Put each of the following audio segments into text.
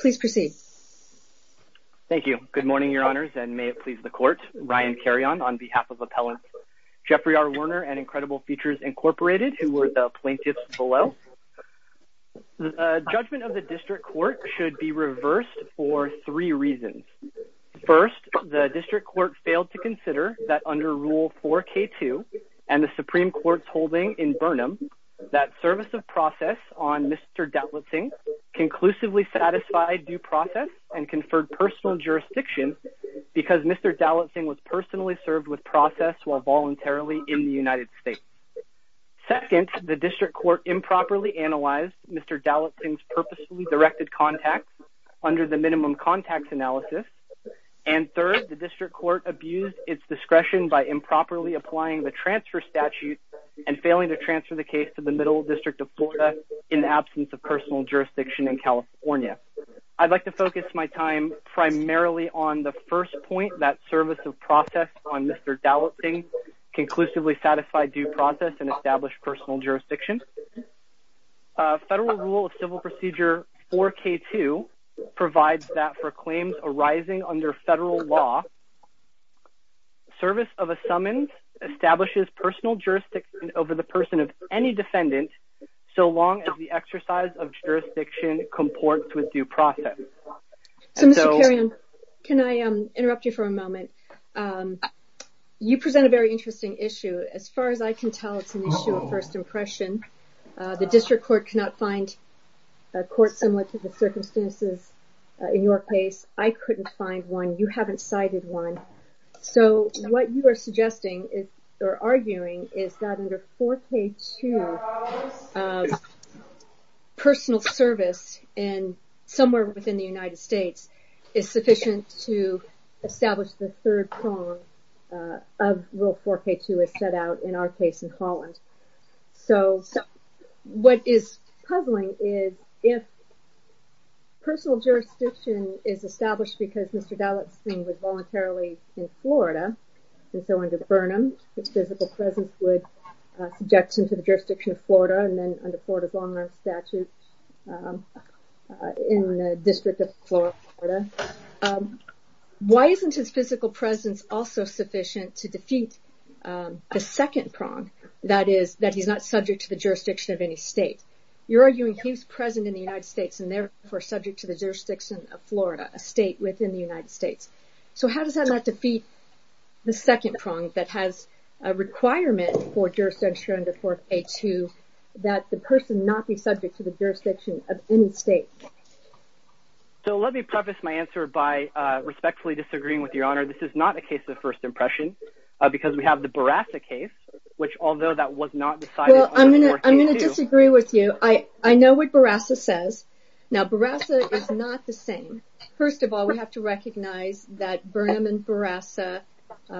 please proceed thank you good morning your honors and may it please the court ryan carry on on behalf of appellant jeffrey r werner and incredible features incorporated who were the plaintiffs below the judgment of the district court should be reversed for three reasons first the district court failed to consider that under rule 4k2 and the supreme court's holding in burnham that service of process on mr dowlatsingh conclusively satisfied due process and conferred personal jurisdiction because mr dowlatsingh was personally served with process while voluntarily in the united states second the district court improperly analyzed mr dowlatsingh's purposefully directed contacts under the minimum contacts analysis and third the district court abused its discretion by improperly applying the transfer statute and failing to transfer the case to the middle district of florida in the absence of personal jurisdiction in california i'd like to focus my time primarily on the first point that service of process on mr dowlatsingh conclusively satisfied due process and established personal jurisdiction uh federal rule of civil procedure 4k2 provides that for claims arising under federal law service of a summons establishes personal jurisdiction over the person of any defendant so long as the exercise of jurisdiction comports with due process so mr carry on can i um interrupt you for a moment um you present a very interesting issue as far as i can tell it's an issue of first impression uh the district court cannot find a court similar to the circumstances in your case i couldn't find one you haven't cited one so what you are suggesting is or arguing is that under 4k2 of personal service in somewhere within the united states is sufficient to establish the third uh of rule 4k2 is set out in our case in holland so so what is puzzling is if personal jurisdiction is established because mr dowlatsingh would voluntarily in florida and so under burnham his physical presence would uh subject him to the jurisdiction of florida and then under florida's long-run statute um in the district of florida um why isn't his physical presence also sufficient to defeat um the second prong that is that he's not subject to the jurisdiction of any state you're arguing he's present in the united states and therefore subject to the jurisdiction of florida a state within the united states so how does that not defeat the second prong that has a requirement for jurisdiction under 4k2 that the person not be subject to the jurisdiction of any state so let me preface my answer by uh respectfully disagreeing with your honor this is not a case of first impression because we have the barasa case which although that was not decided well i'm gonna i'm gonna disagree with you i i know what barasa says now barasa is not the same first of all we have to recognize that burnham and barasa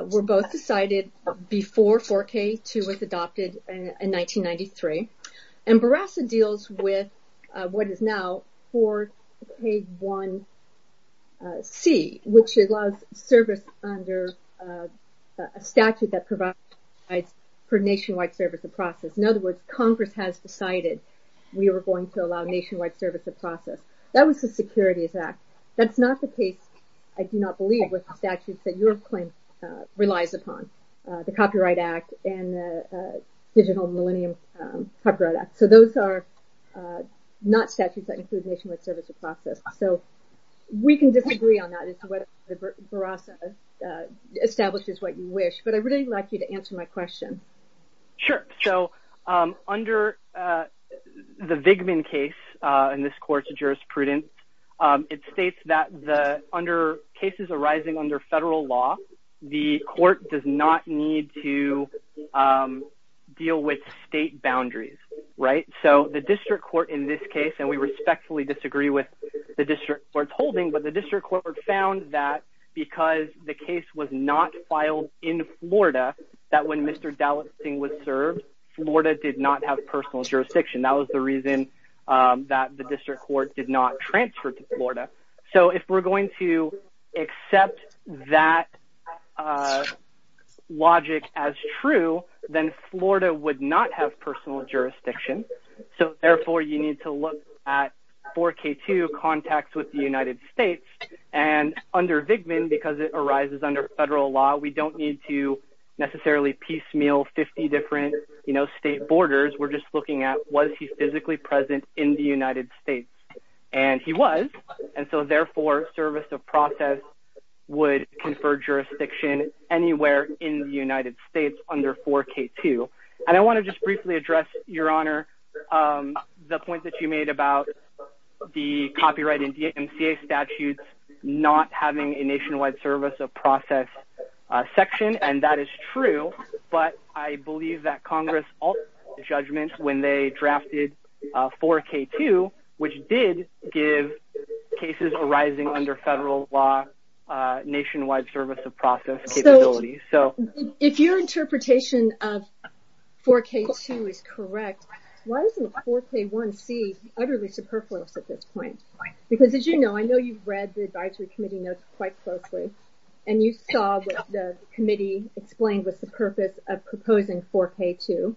were both decided before 4k2 was adopted in 1993 and barasa deals with what is now 4k1c which allows service under a statute that provides for nationwide service of process in other words congress has decided we were going to allow nationwide service of process that was the securities act that's not the case i do not digital millennium copyright act so those are uh not statutes that include nationwide service of process so we can disagree on that as to whether the barasa uh establishes what you wish but i really like you to answer my question sure so um under uh the vigman case uh in this court's jurisprudence um it states that the under cases arising under federal law the court does not need to um deal with state boundaries right so the district court in this case and we respectfully disagree with the district court's holding but the district court found that because the case was not filed in florida that when mr dallesting was served florida did not have personal jurisdiction that was the reason um that the district court did not transfer to florida so if we're going to accept that uh logic as true then florida would not have personal jurisdiction so therefore you need to look at 4k2 contacts with the united states and under vigman because it arises under federal law we don't need to necessarily piecemeal 50 different you know state borders we're just looking at was he physically present in the united states and he was and so therefore service of process would confer jurisdiction anywhere in the united states under 4k2 and i want to just briefly address your honor um the point that you made about the copyright and dmca statutes not having a nationwide service of process uh section and that is true but i believe that congress judgments when they drafted 4k2 which did give cases arising under federal law nationwide service of process capability so if your interpretation of 4k2 is correct why isn't 4k1c utterly superfluous at this point because as you know i know you've read the advisory committee notes quite closely and you saw what the committee explained was the purpose of proposing 4k2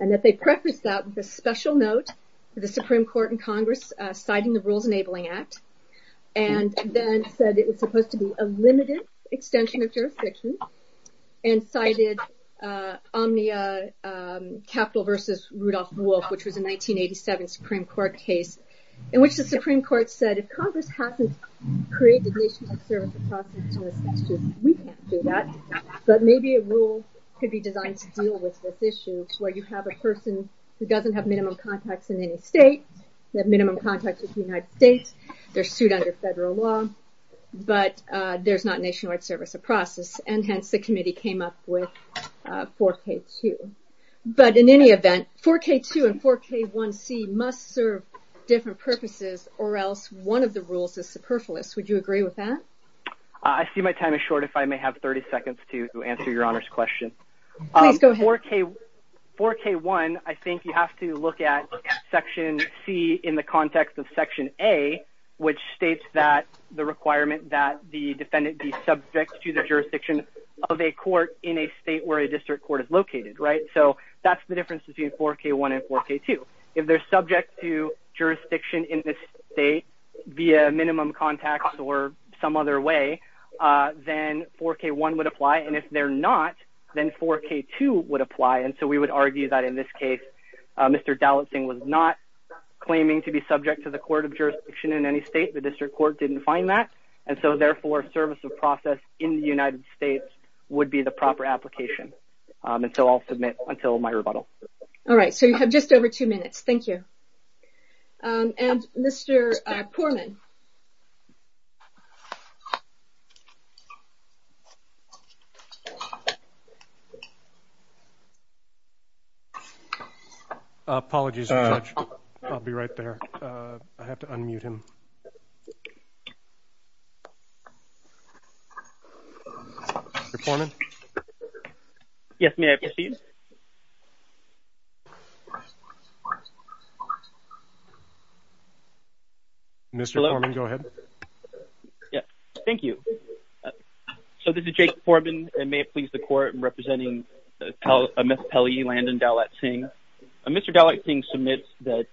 and that they preface that with a special note for the supreme court and congress citing the rules enabling act and then said it was supposed to be a limited extension of jurisdiction and cited uh omnia um capital versus rudolph wolf which was a 1987 supreme court case in which the supreme court said if congress hasn't created nationwide service of process we can't do that but maybe a rule could be designed to deal with this issue where you have a person who doesn't have minimum contacts in any state that minimum contact with the united states they're sued under federal law but uh there's not nationwide service of process and hence the committee came up with 4k2 but in any event 4k2 and 4k1c must serve different purposes or else one of the rules would you agree with that i see my time is short if i may have 30 seconds to answer your honor's question please go ahead 4k 4k1 i think you have to look at section c in the context of section a which states that the requirement that the defendant be subject to the jurisdiction of a court in a state where a district court is located right so that's the difference between 4k1 and 4k2 if they're subject to jurisdiction in this state via minimum contacts or some other way uh then 4k1 would apply and if they're not then 4k2 would apply and so we would argue that in this case uh mr dalit singh was not claiming to be subject to the court of jurisdiction in any state the district court didn't find that and so therefore service of process in the united states would be the proper application and so i'll submit until my rebuttal all right so you have just over two minutes thank you um and mr uh poorman apologies i'll be right there i have to unmute him before me yes may i proceed mr foreman go ahead yeah thank you so this is jake foreman and may it please the court representing miss pelly landon dalit singh mr dalit singh submits that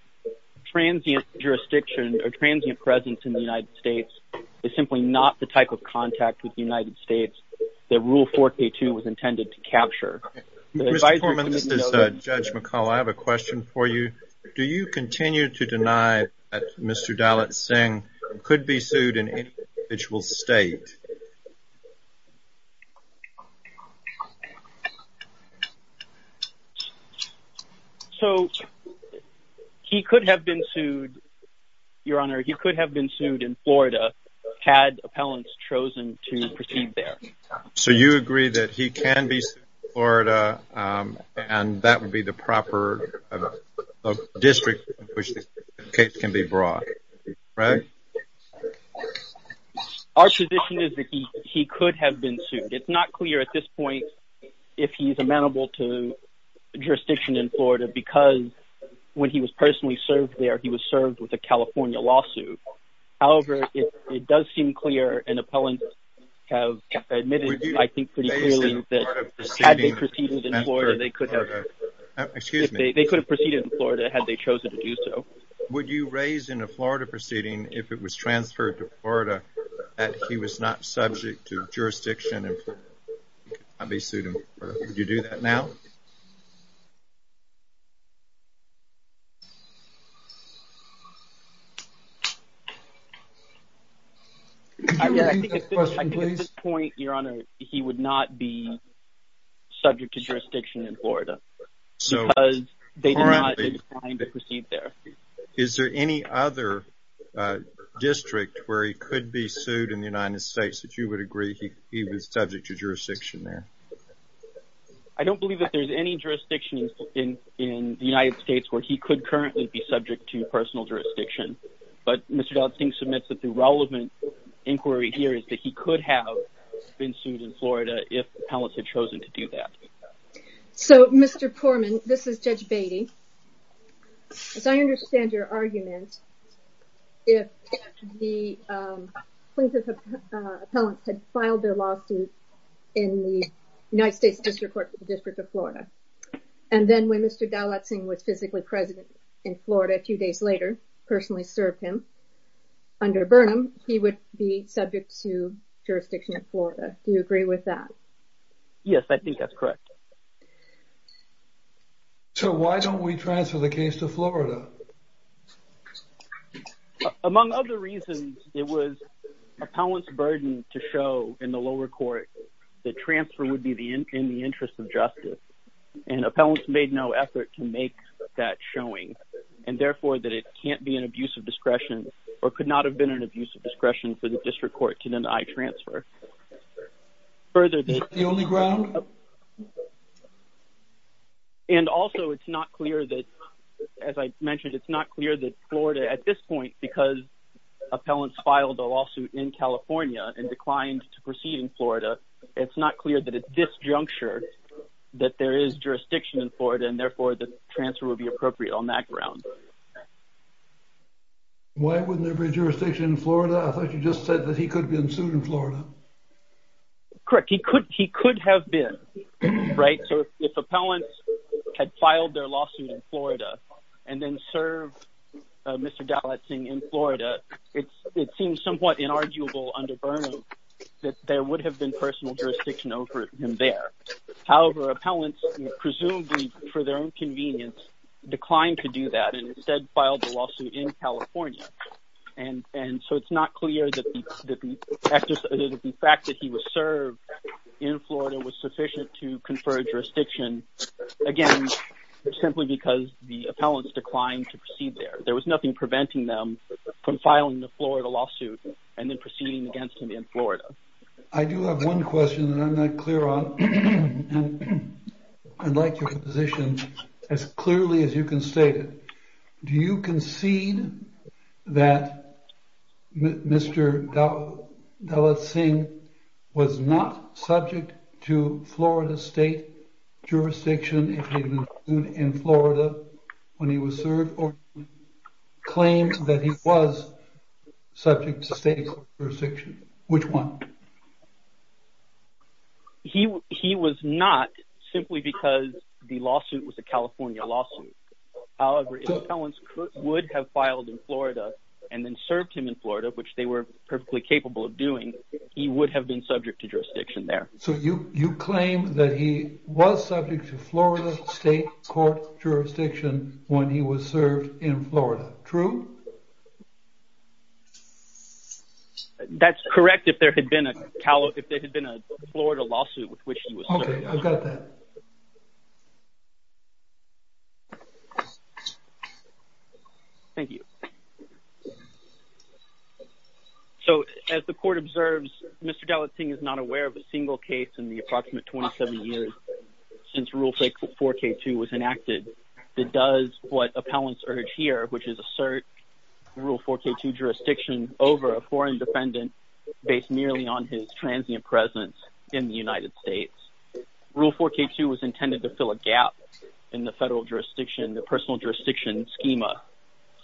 transient jurisdiction or transient presence in the united states is simply not the type of contact with the united states that rule 4k2 was intended to capture mr foreman this is uh judge mccall i have a question for you do you continue to deny that mr dalit singh could be sued in any individual state so he could have been sued your honor he could have been sued in florida had appellants chosen to proceed there so you agree that he can be florida um and that would be the proper district which the case can be brought right our position is that he he could have been sued it's not clear at this point if he's amenable to jurisdiction in florida because when he was personally served there was served with a california lawsuit however it does seem clear and appellants have admitted i think pretty clearly that had they proceeded in florida they could have excuse me they could have proceeded in florida had they chosen to do so would you raise in a florida proceeding if it was transferred to florida that he was not subject to jurisdiction he could not be sued in florida would you do that now yeah i think at this point your honor he would not be subject to jurisdiction in florida is there any other uh district where he could be sued in the united states that you would agree he was subject to jurisdiction there i don't believe that there's any jurisdiction in in the united states where he could currently be subject to personal jurisdiction but mr dodd i think submits that the relevant inquiry here is that he could have been sued in florida if appellants had chosen to do that so mr poorman this is judge baity as i understand your argument if the plaintiff's appellant had filed their lawsuit in the united states district court for the district of florida and then when mr dalat sing was physically president in florida a few days later personally served him under burnham he would be subject to jurisdiction in florida do you agree with that yes i think that's correct so why don't we transfer the florida among other reasons it was appellant's burden to show in the lower court that transfer would be the in the interest of justice and appellants made no effort to make that showing and therefore that it can't be an abuse of discretion or could not have been an abuse of discretion for the district court to deny transfer further the only ground okay and also it's not clear that as i mentioned it's not clear that florida at this point because appellants filed a lawsuit in california and declined to proceed in florida it's not clear that at this juncture that there is jurisdiction in florida and therefore the transfer would be appropriate on that ground why wouldn't there be jurisdiction in florida i thought you just said that he could have been sued in florida correct he could he could have been right so if appellants had filed their lawsuit in florida and then serve mr dalat sing in florida it's it seems somewhat inarguable under burnham that there would have been personal jurisdiction over him there however appellants presumably for their own convenience declined to do that and instead filed the lawsuit in california and and so it's not clear that the fact that he was served in florida was sufficient to confer jurisdiction again simply because the appellants declined to proceed there there was nothing preventing them from filing the florida lawsuit and then proceeding against him in florida i do have one question that i'm not clear on and i'd like your position as clearly as you can state it do you concede that mr dalat sing was not subject to florida state jurisdiction in florida when he was served or claimed that he was subject to state jurisdiction which one he he was not simply because the lawsuit was a california lawsuit however appellants would have filed in florida and then served him in florida which they were perfectly capable of doing he would have been subject to jurisdiction there so you you claim that he was subject to florida state court jurisdiction when he was served in florida true so that's correct if there had been a callow if there had been a florida lawsuit with which he was okay i've got that thank you so as the court observes mr dalat sing is not aware of a single case in the approximate 27 years since rule 4k2 was enacted that does what appellants urge here which is assert rule 4k2 jurisdiction over a foreign defendant based merely on his transient presence in the united states rule 4k2 was intended to fill a gap in the federal jurisdiction the personal jurisdiction schema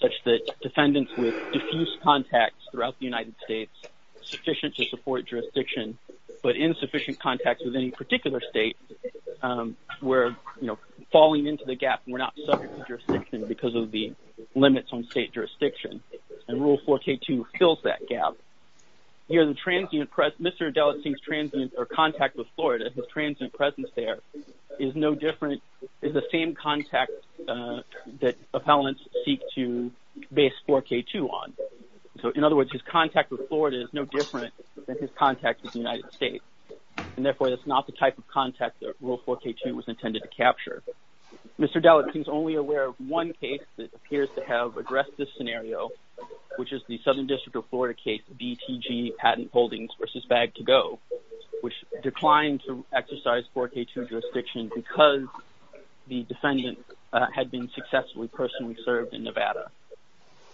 such that defendants with diffuse contacts throughout the united states sufficient to support jurisdiction but insufficient contacts with any particular state where you know falling into the gap we're not subject to jurisdiction because of the limits on state jurisdiction and rule 4k2 fills that gap here the transient press mr dalat seems transient or contact with florida his transient presence there is no different is the same contact that appellants seek to base 4k2 on so in other words his contact with florida is no different than his contact with the united states and therefore that's not the type of contact that rule 4k2 was intended to capture mr dalat seems only aware of one case that appears to have addressed this scenario which is the southern district of florida case btg patent holdings versus bag to go which declined to exercise 4k2 jurisdiction because the defendant had been successfully personally served in nevada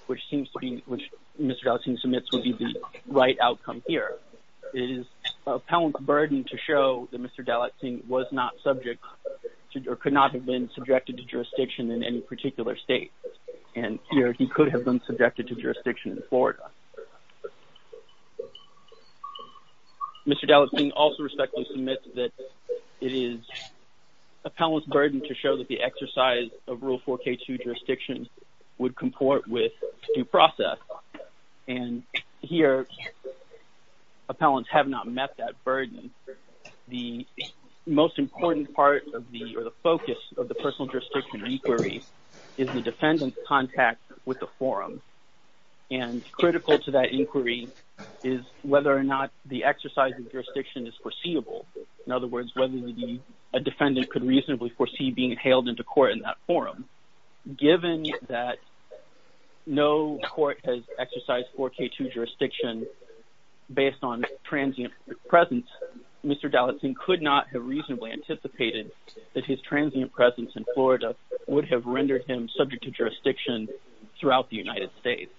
which seems to be which mr dalat submits would be the right outcome here it is appellant burden to show that mr dalat was not subject to or could not have been subjected to jurisdiction in any particular state and here he could have been subjected to jurisdiction in florida mr dalat king also respectfully submits that it is appellants burden to show that the exercise of rule 4k2 jurisdiction would comport with due process and here appellants have not met that burden the most important part of the or the focus of the personal jurisdiction inquiry is the defendant's contact with the forum and critical to that inquiry is whether or not the exercise of jurisdiction is foreseeable in other words whether the defendant could reasonably foresee being hailed into court in that forum given that no court has exercised 4k2 jurisdiction based on transient presence mr dalat king could not have reasonably anticipated that his transient presence in florida would have rendered him subject to jurisdiction throughout the united states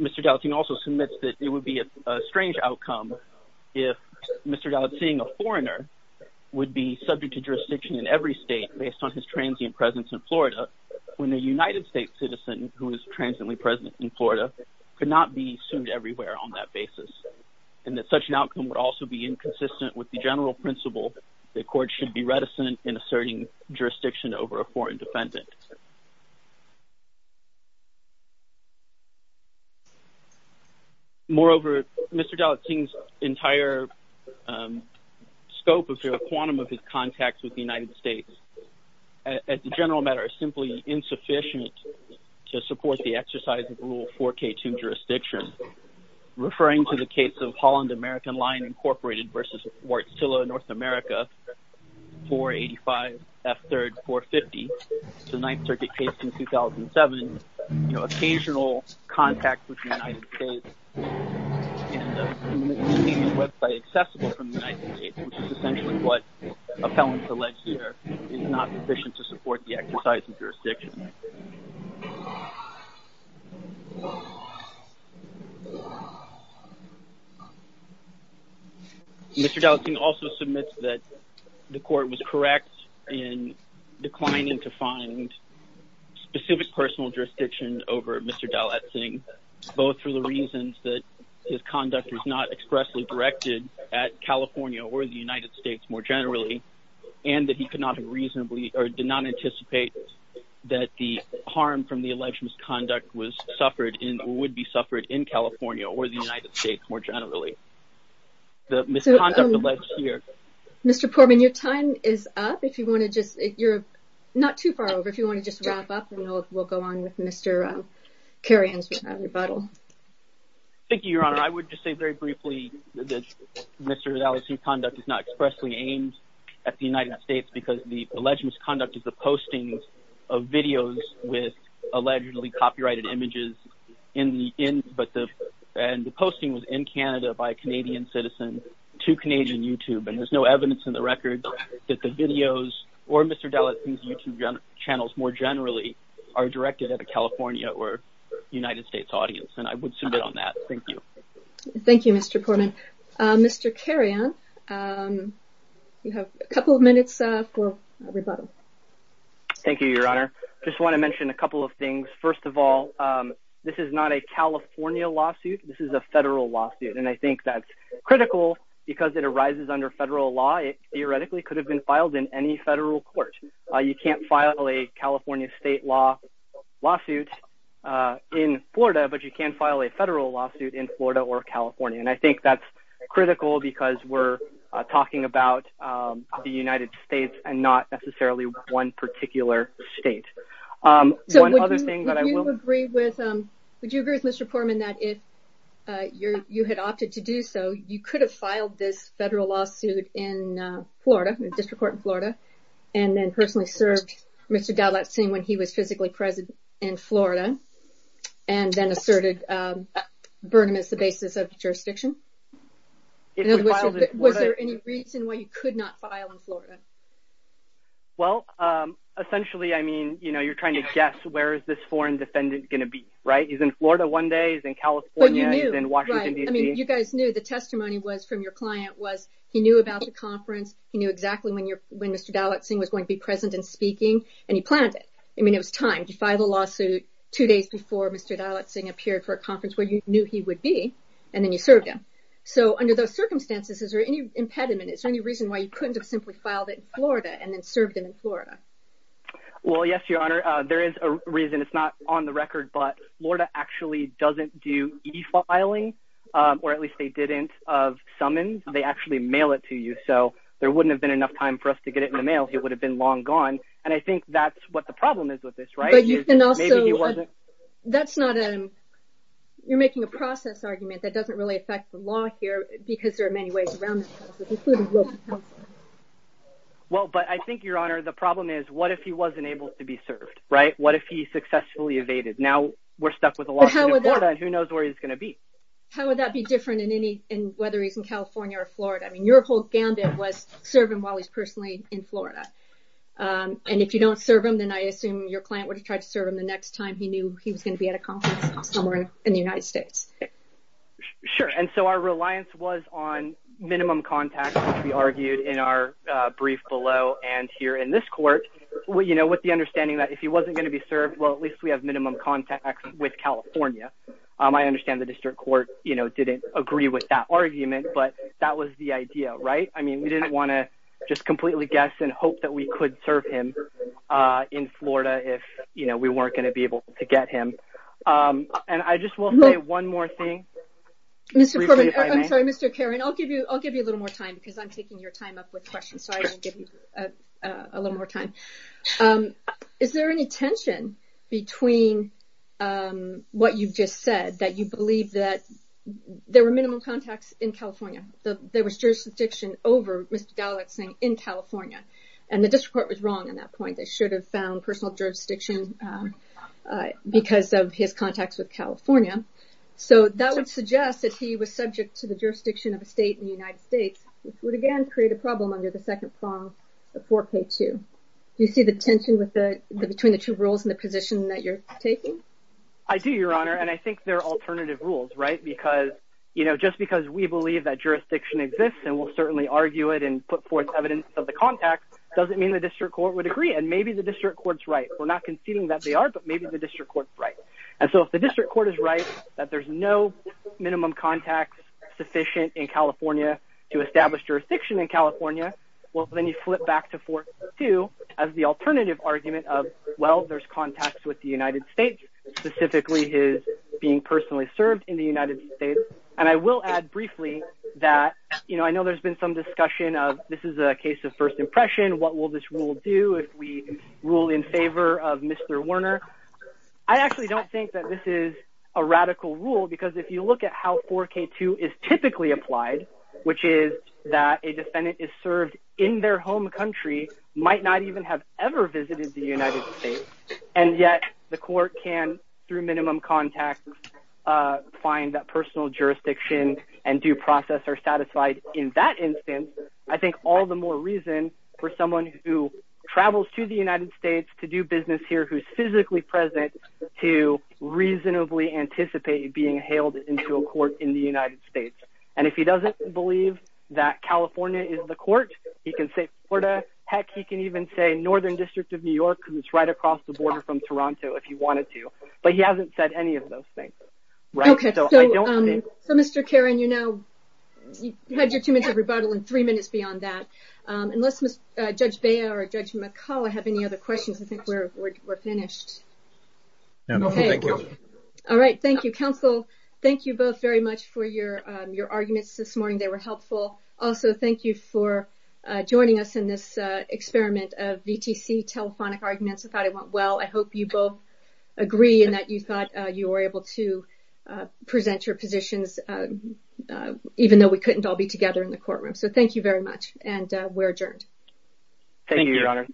mr dalat king also submits that it would be a strange outcome if mr dalat seeing a foreigner would be subject to jurisdiction in every state based on his transient presence in florida when a united states citizen who is transiently present in florida could not be sued everywhere on that basis and that such an outcome would also be inconsistent with the principle the court should be reticent in asserting jurisdiction over a foreign defendant moreover mr dalat king's entire scope of quantum of his contacts with the united states as a general matter is simply insufficient to support the exercise of rule 4k2 jurisdiction referring to the case of holland american line incorporated versus wartzilla north america 485 f 3rd 450 the ninth circuit case in 2007 occasional contact with the united states website accessible from the united states which is essentially what appellants alleged here is not sufficient to support the exercise of jurisdiction uh mr dalat king also submits that the court was correct in declining to find specific personal jurisdiction over mr dalat thing both for the reasons that his conduct was not expressly directed at california or the united states more generally and that he could not have reasonably or did not anticipate that the harm from the alleged misconduct was suffered in would be suffered in california or the united states more generally the misconduct alleged here mr poorman your time is up if you want to just if you're not too far over if you want to just wrap up and we'll go on with mr uh carry on with that rebuttal thank you your honor i would just say very briefly that mr dalat conduct is not expressly aimed at the united states because the images in the in but the and the posting was in canada by a canadian citizen to canadian youtube and there's no evidence in the records that the videos or mr dalat youtube channels more generally are directed at the california or united states audience and i would submit on that thank you thank you mr poorman uh mr carry on um you have a couple of minutes uh for a rebuttal thank you your honor just want to mention a couple of things first of all um this is not a california lawsuit this is a federal lawsuit and i think that's critical because it arises under federal law it theoretically could have been filed in any federal court uh you can't file a california state law lawsuit uh in florida but you can file a federal lawsuit in florida or california and i one particular state um one other thing that i will agree with um would you agree with mr poorman that if uh your you had opted to do so you could have filed this federal lawsuit in uh florida district court in florida and then personally served mr dalat scene when he was physically present in florida and then asserted um burnham is the basis of the jurisdiction in other words was there any reason why you could not file in florida well um essentially i mean you know you're trying to guess where is this foreign defendant going to be right he's in florida one day he's in california he's in washington dc i mean you guys knew the testimony was from your client was he knew about the conference he knew exactly when you're when mr dalat sing was going to be present and speaking and he planned it i mean it was time to file the lawsuit two days before mr dalat sing appeared for a conference where you knew he would be and then you served him so under those circumstances is there any impediment is there any reason why you couldn't have simply filed it in florida and then served him in florida well yes your honor uh there is a reason it's not on the record but florida actually doesn't do e-filing um or at least they didn't of summons they actually mail it to you so there wouldn't have been enough time for us to get it in the mail it would have been long gone and i think that's what the problem is with this right you can also that's not a you're making a process argument that doesn't really affect the law here because there are many ways around well but i think your honor the problem is what if he wasn't able to be served right what if he successfully evaded now we're stuck with a lawsuit in florida and who knows where he's going to be how would that be different in any in whether he's in california or florida i mean your whole gambit was serve him while he's personally in florida um and if you don't serve him then i assume your client would have tried to serve him the next time he knew he was going to be at a state sure and so our reliance was on minimum contact which we argued in our uh brief below and here in this court well you know with the understanding that if he wasn't going to be served well at least we have minimum contact with california um i understand the district court you know didn't agree with that argument but that was the idea right i mean we didn't want to just completely guess and hope that we could serve him uh in florida if you know we weren't going to be to get him um and i just will say one more thing mr i'm sorry mr karen i'll give you i'll give you a little more time because i'm taking your time up with questions so i can give you a little more time um is there any tension between um what you've just said that you believe that there were minimum contacts in california the there was jurisdiction over mr dalek saying in california and the district court was wrong on that point they should have found personal jurisdiction because of his contacts with california so that would suggest that he was subject to the jurisdiction of a state in the united states which would again create a problem under the second form of 4k2 you see the tension with the between the two rules and the position that you're taking i do your honor and i think there are alternative rules right because you know just because we believe that jurisdiction exists and we'll certainly argue it and put forth evidence of the contact doesn't mean the district court would agree and maybe the district court's right we're not conceding that they are but maybe the district court's right and so if the district court is right that there's no minimum contacts sufficient in california to establish jurisdiction in california well then you flip back to 4k2 as the alternative argument of well there's contacts with the united states specifically his being personally served in the united states and i will add briefly that you know i know there's been some discussion of this is a case of first impression what will this rule do if we rule in favor of mr werner i actually don't think that this is a radical rule because if you look at how 4k2 is typically applied which is that a defendant is served in their home country might not even have ever visited the united states and yet the court can through minimum contacts uh find that personal jurisdiction and due process are satisfied in that instance i think all the more reason for someone who travels to the united states to do business here who's physically present to reasonably anticipate being hailed into a court in the united states and if he doesn't believe that california is the court he can say florida heck he can even say northern district of new york because it's right across the border from toronto if you wanted but he hasn't said any of those things okay so mr karen you know you had your two minutes of rebuttal in three minutes beyond that um unless judge bea or judge mccall i have any other questions i think we're we're finished no thank you all right thank you counsel thank you both very much for your um your arguments this morning they were helpful also thank you for uh joining us in this uh experiment of vtc telephonic arguments i thought it went well i hope you both agree and that you thought you were able to uh present your positions uh even though we couldn't all be together in the courtroom so thank you very much and we're adjourned thank you your honor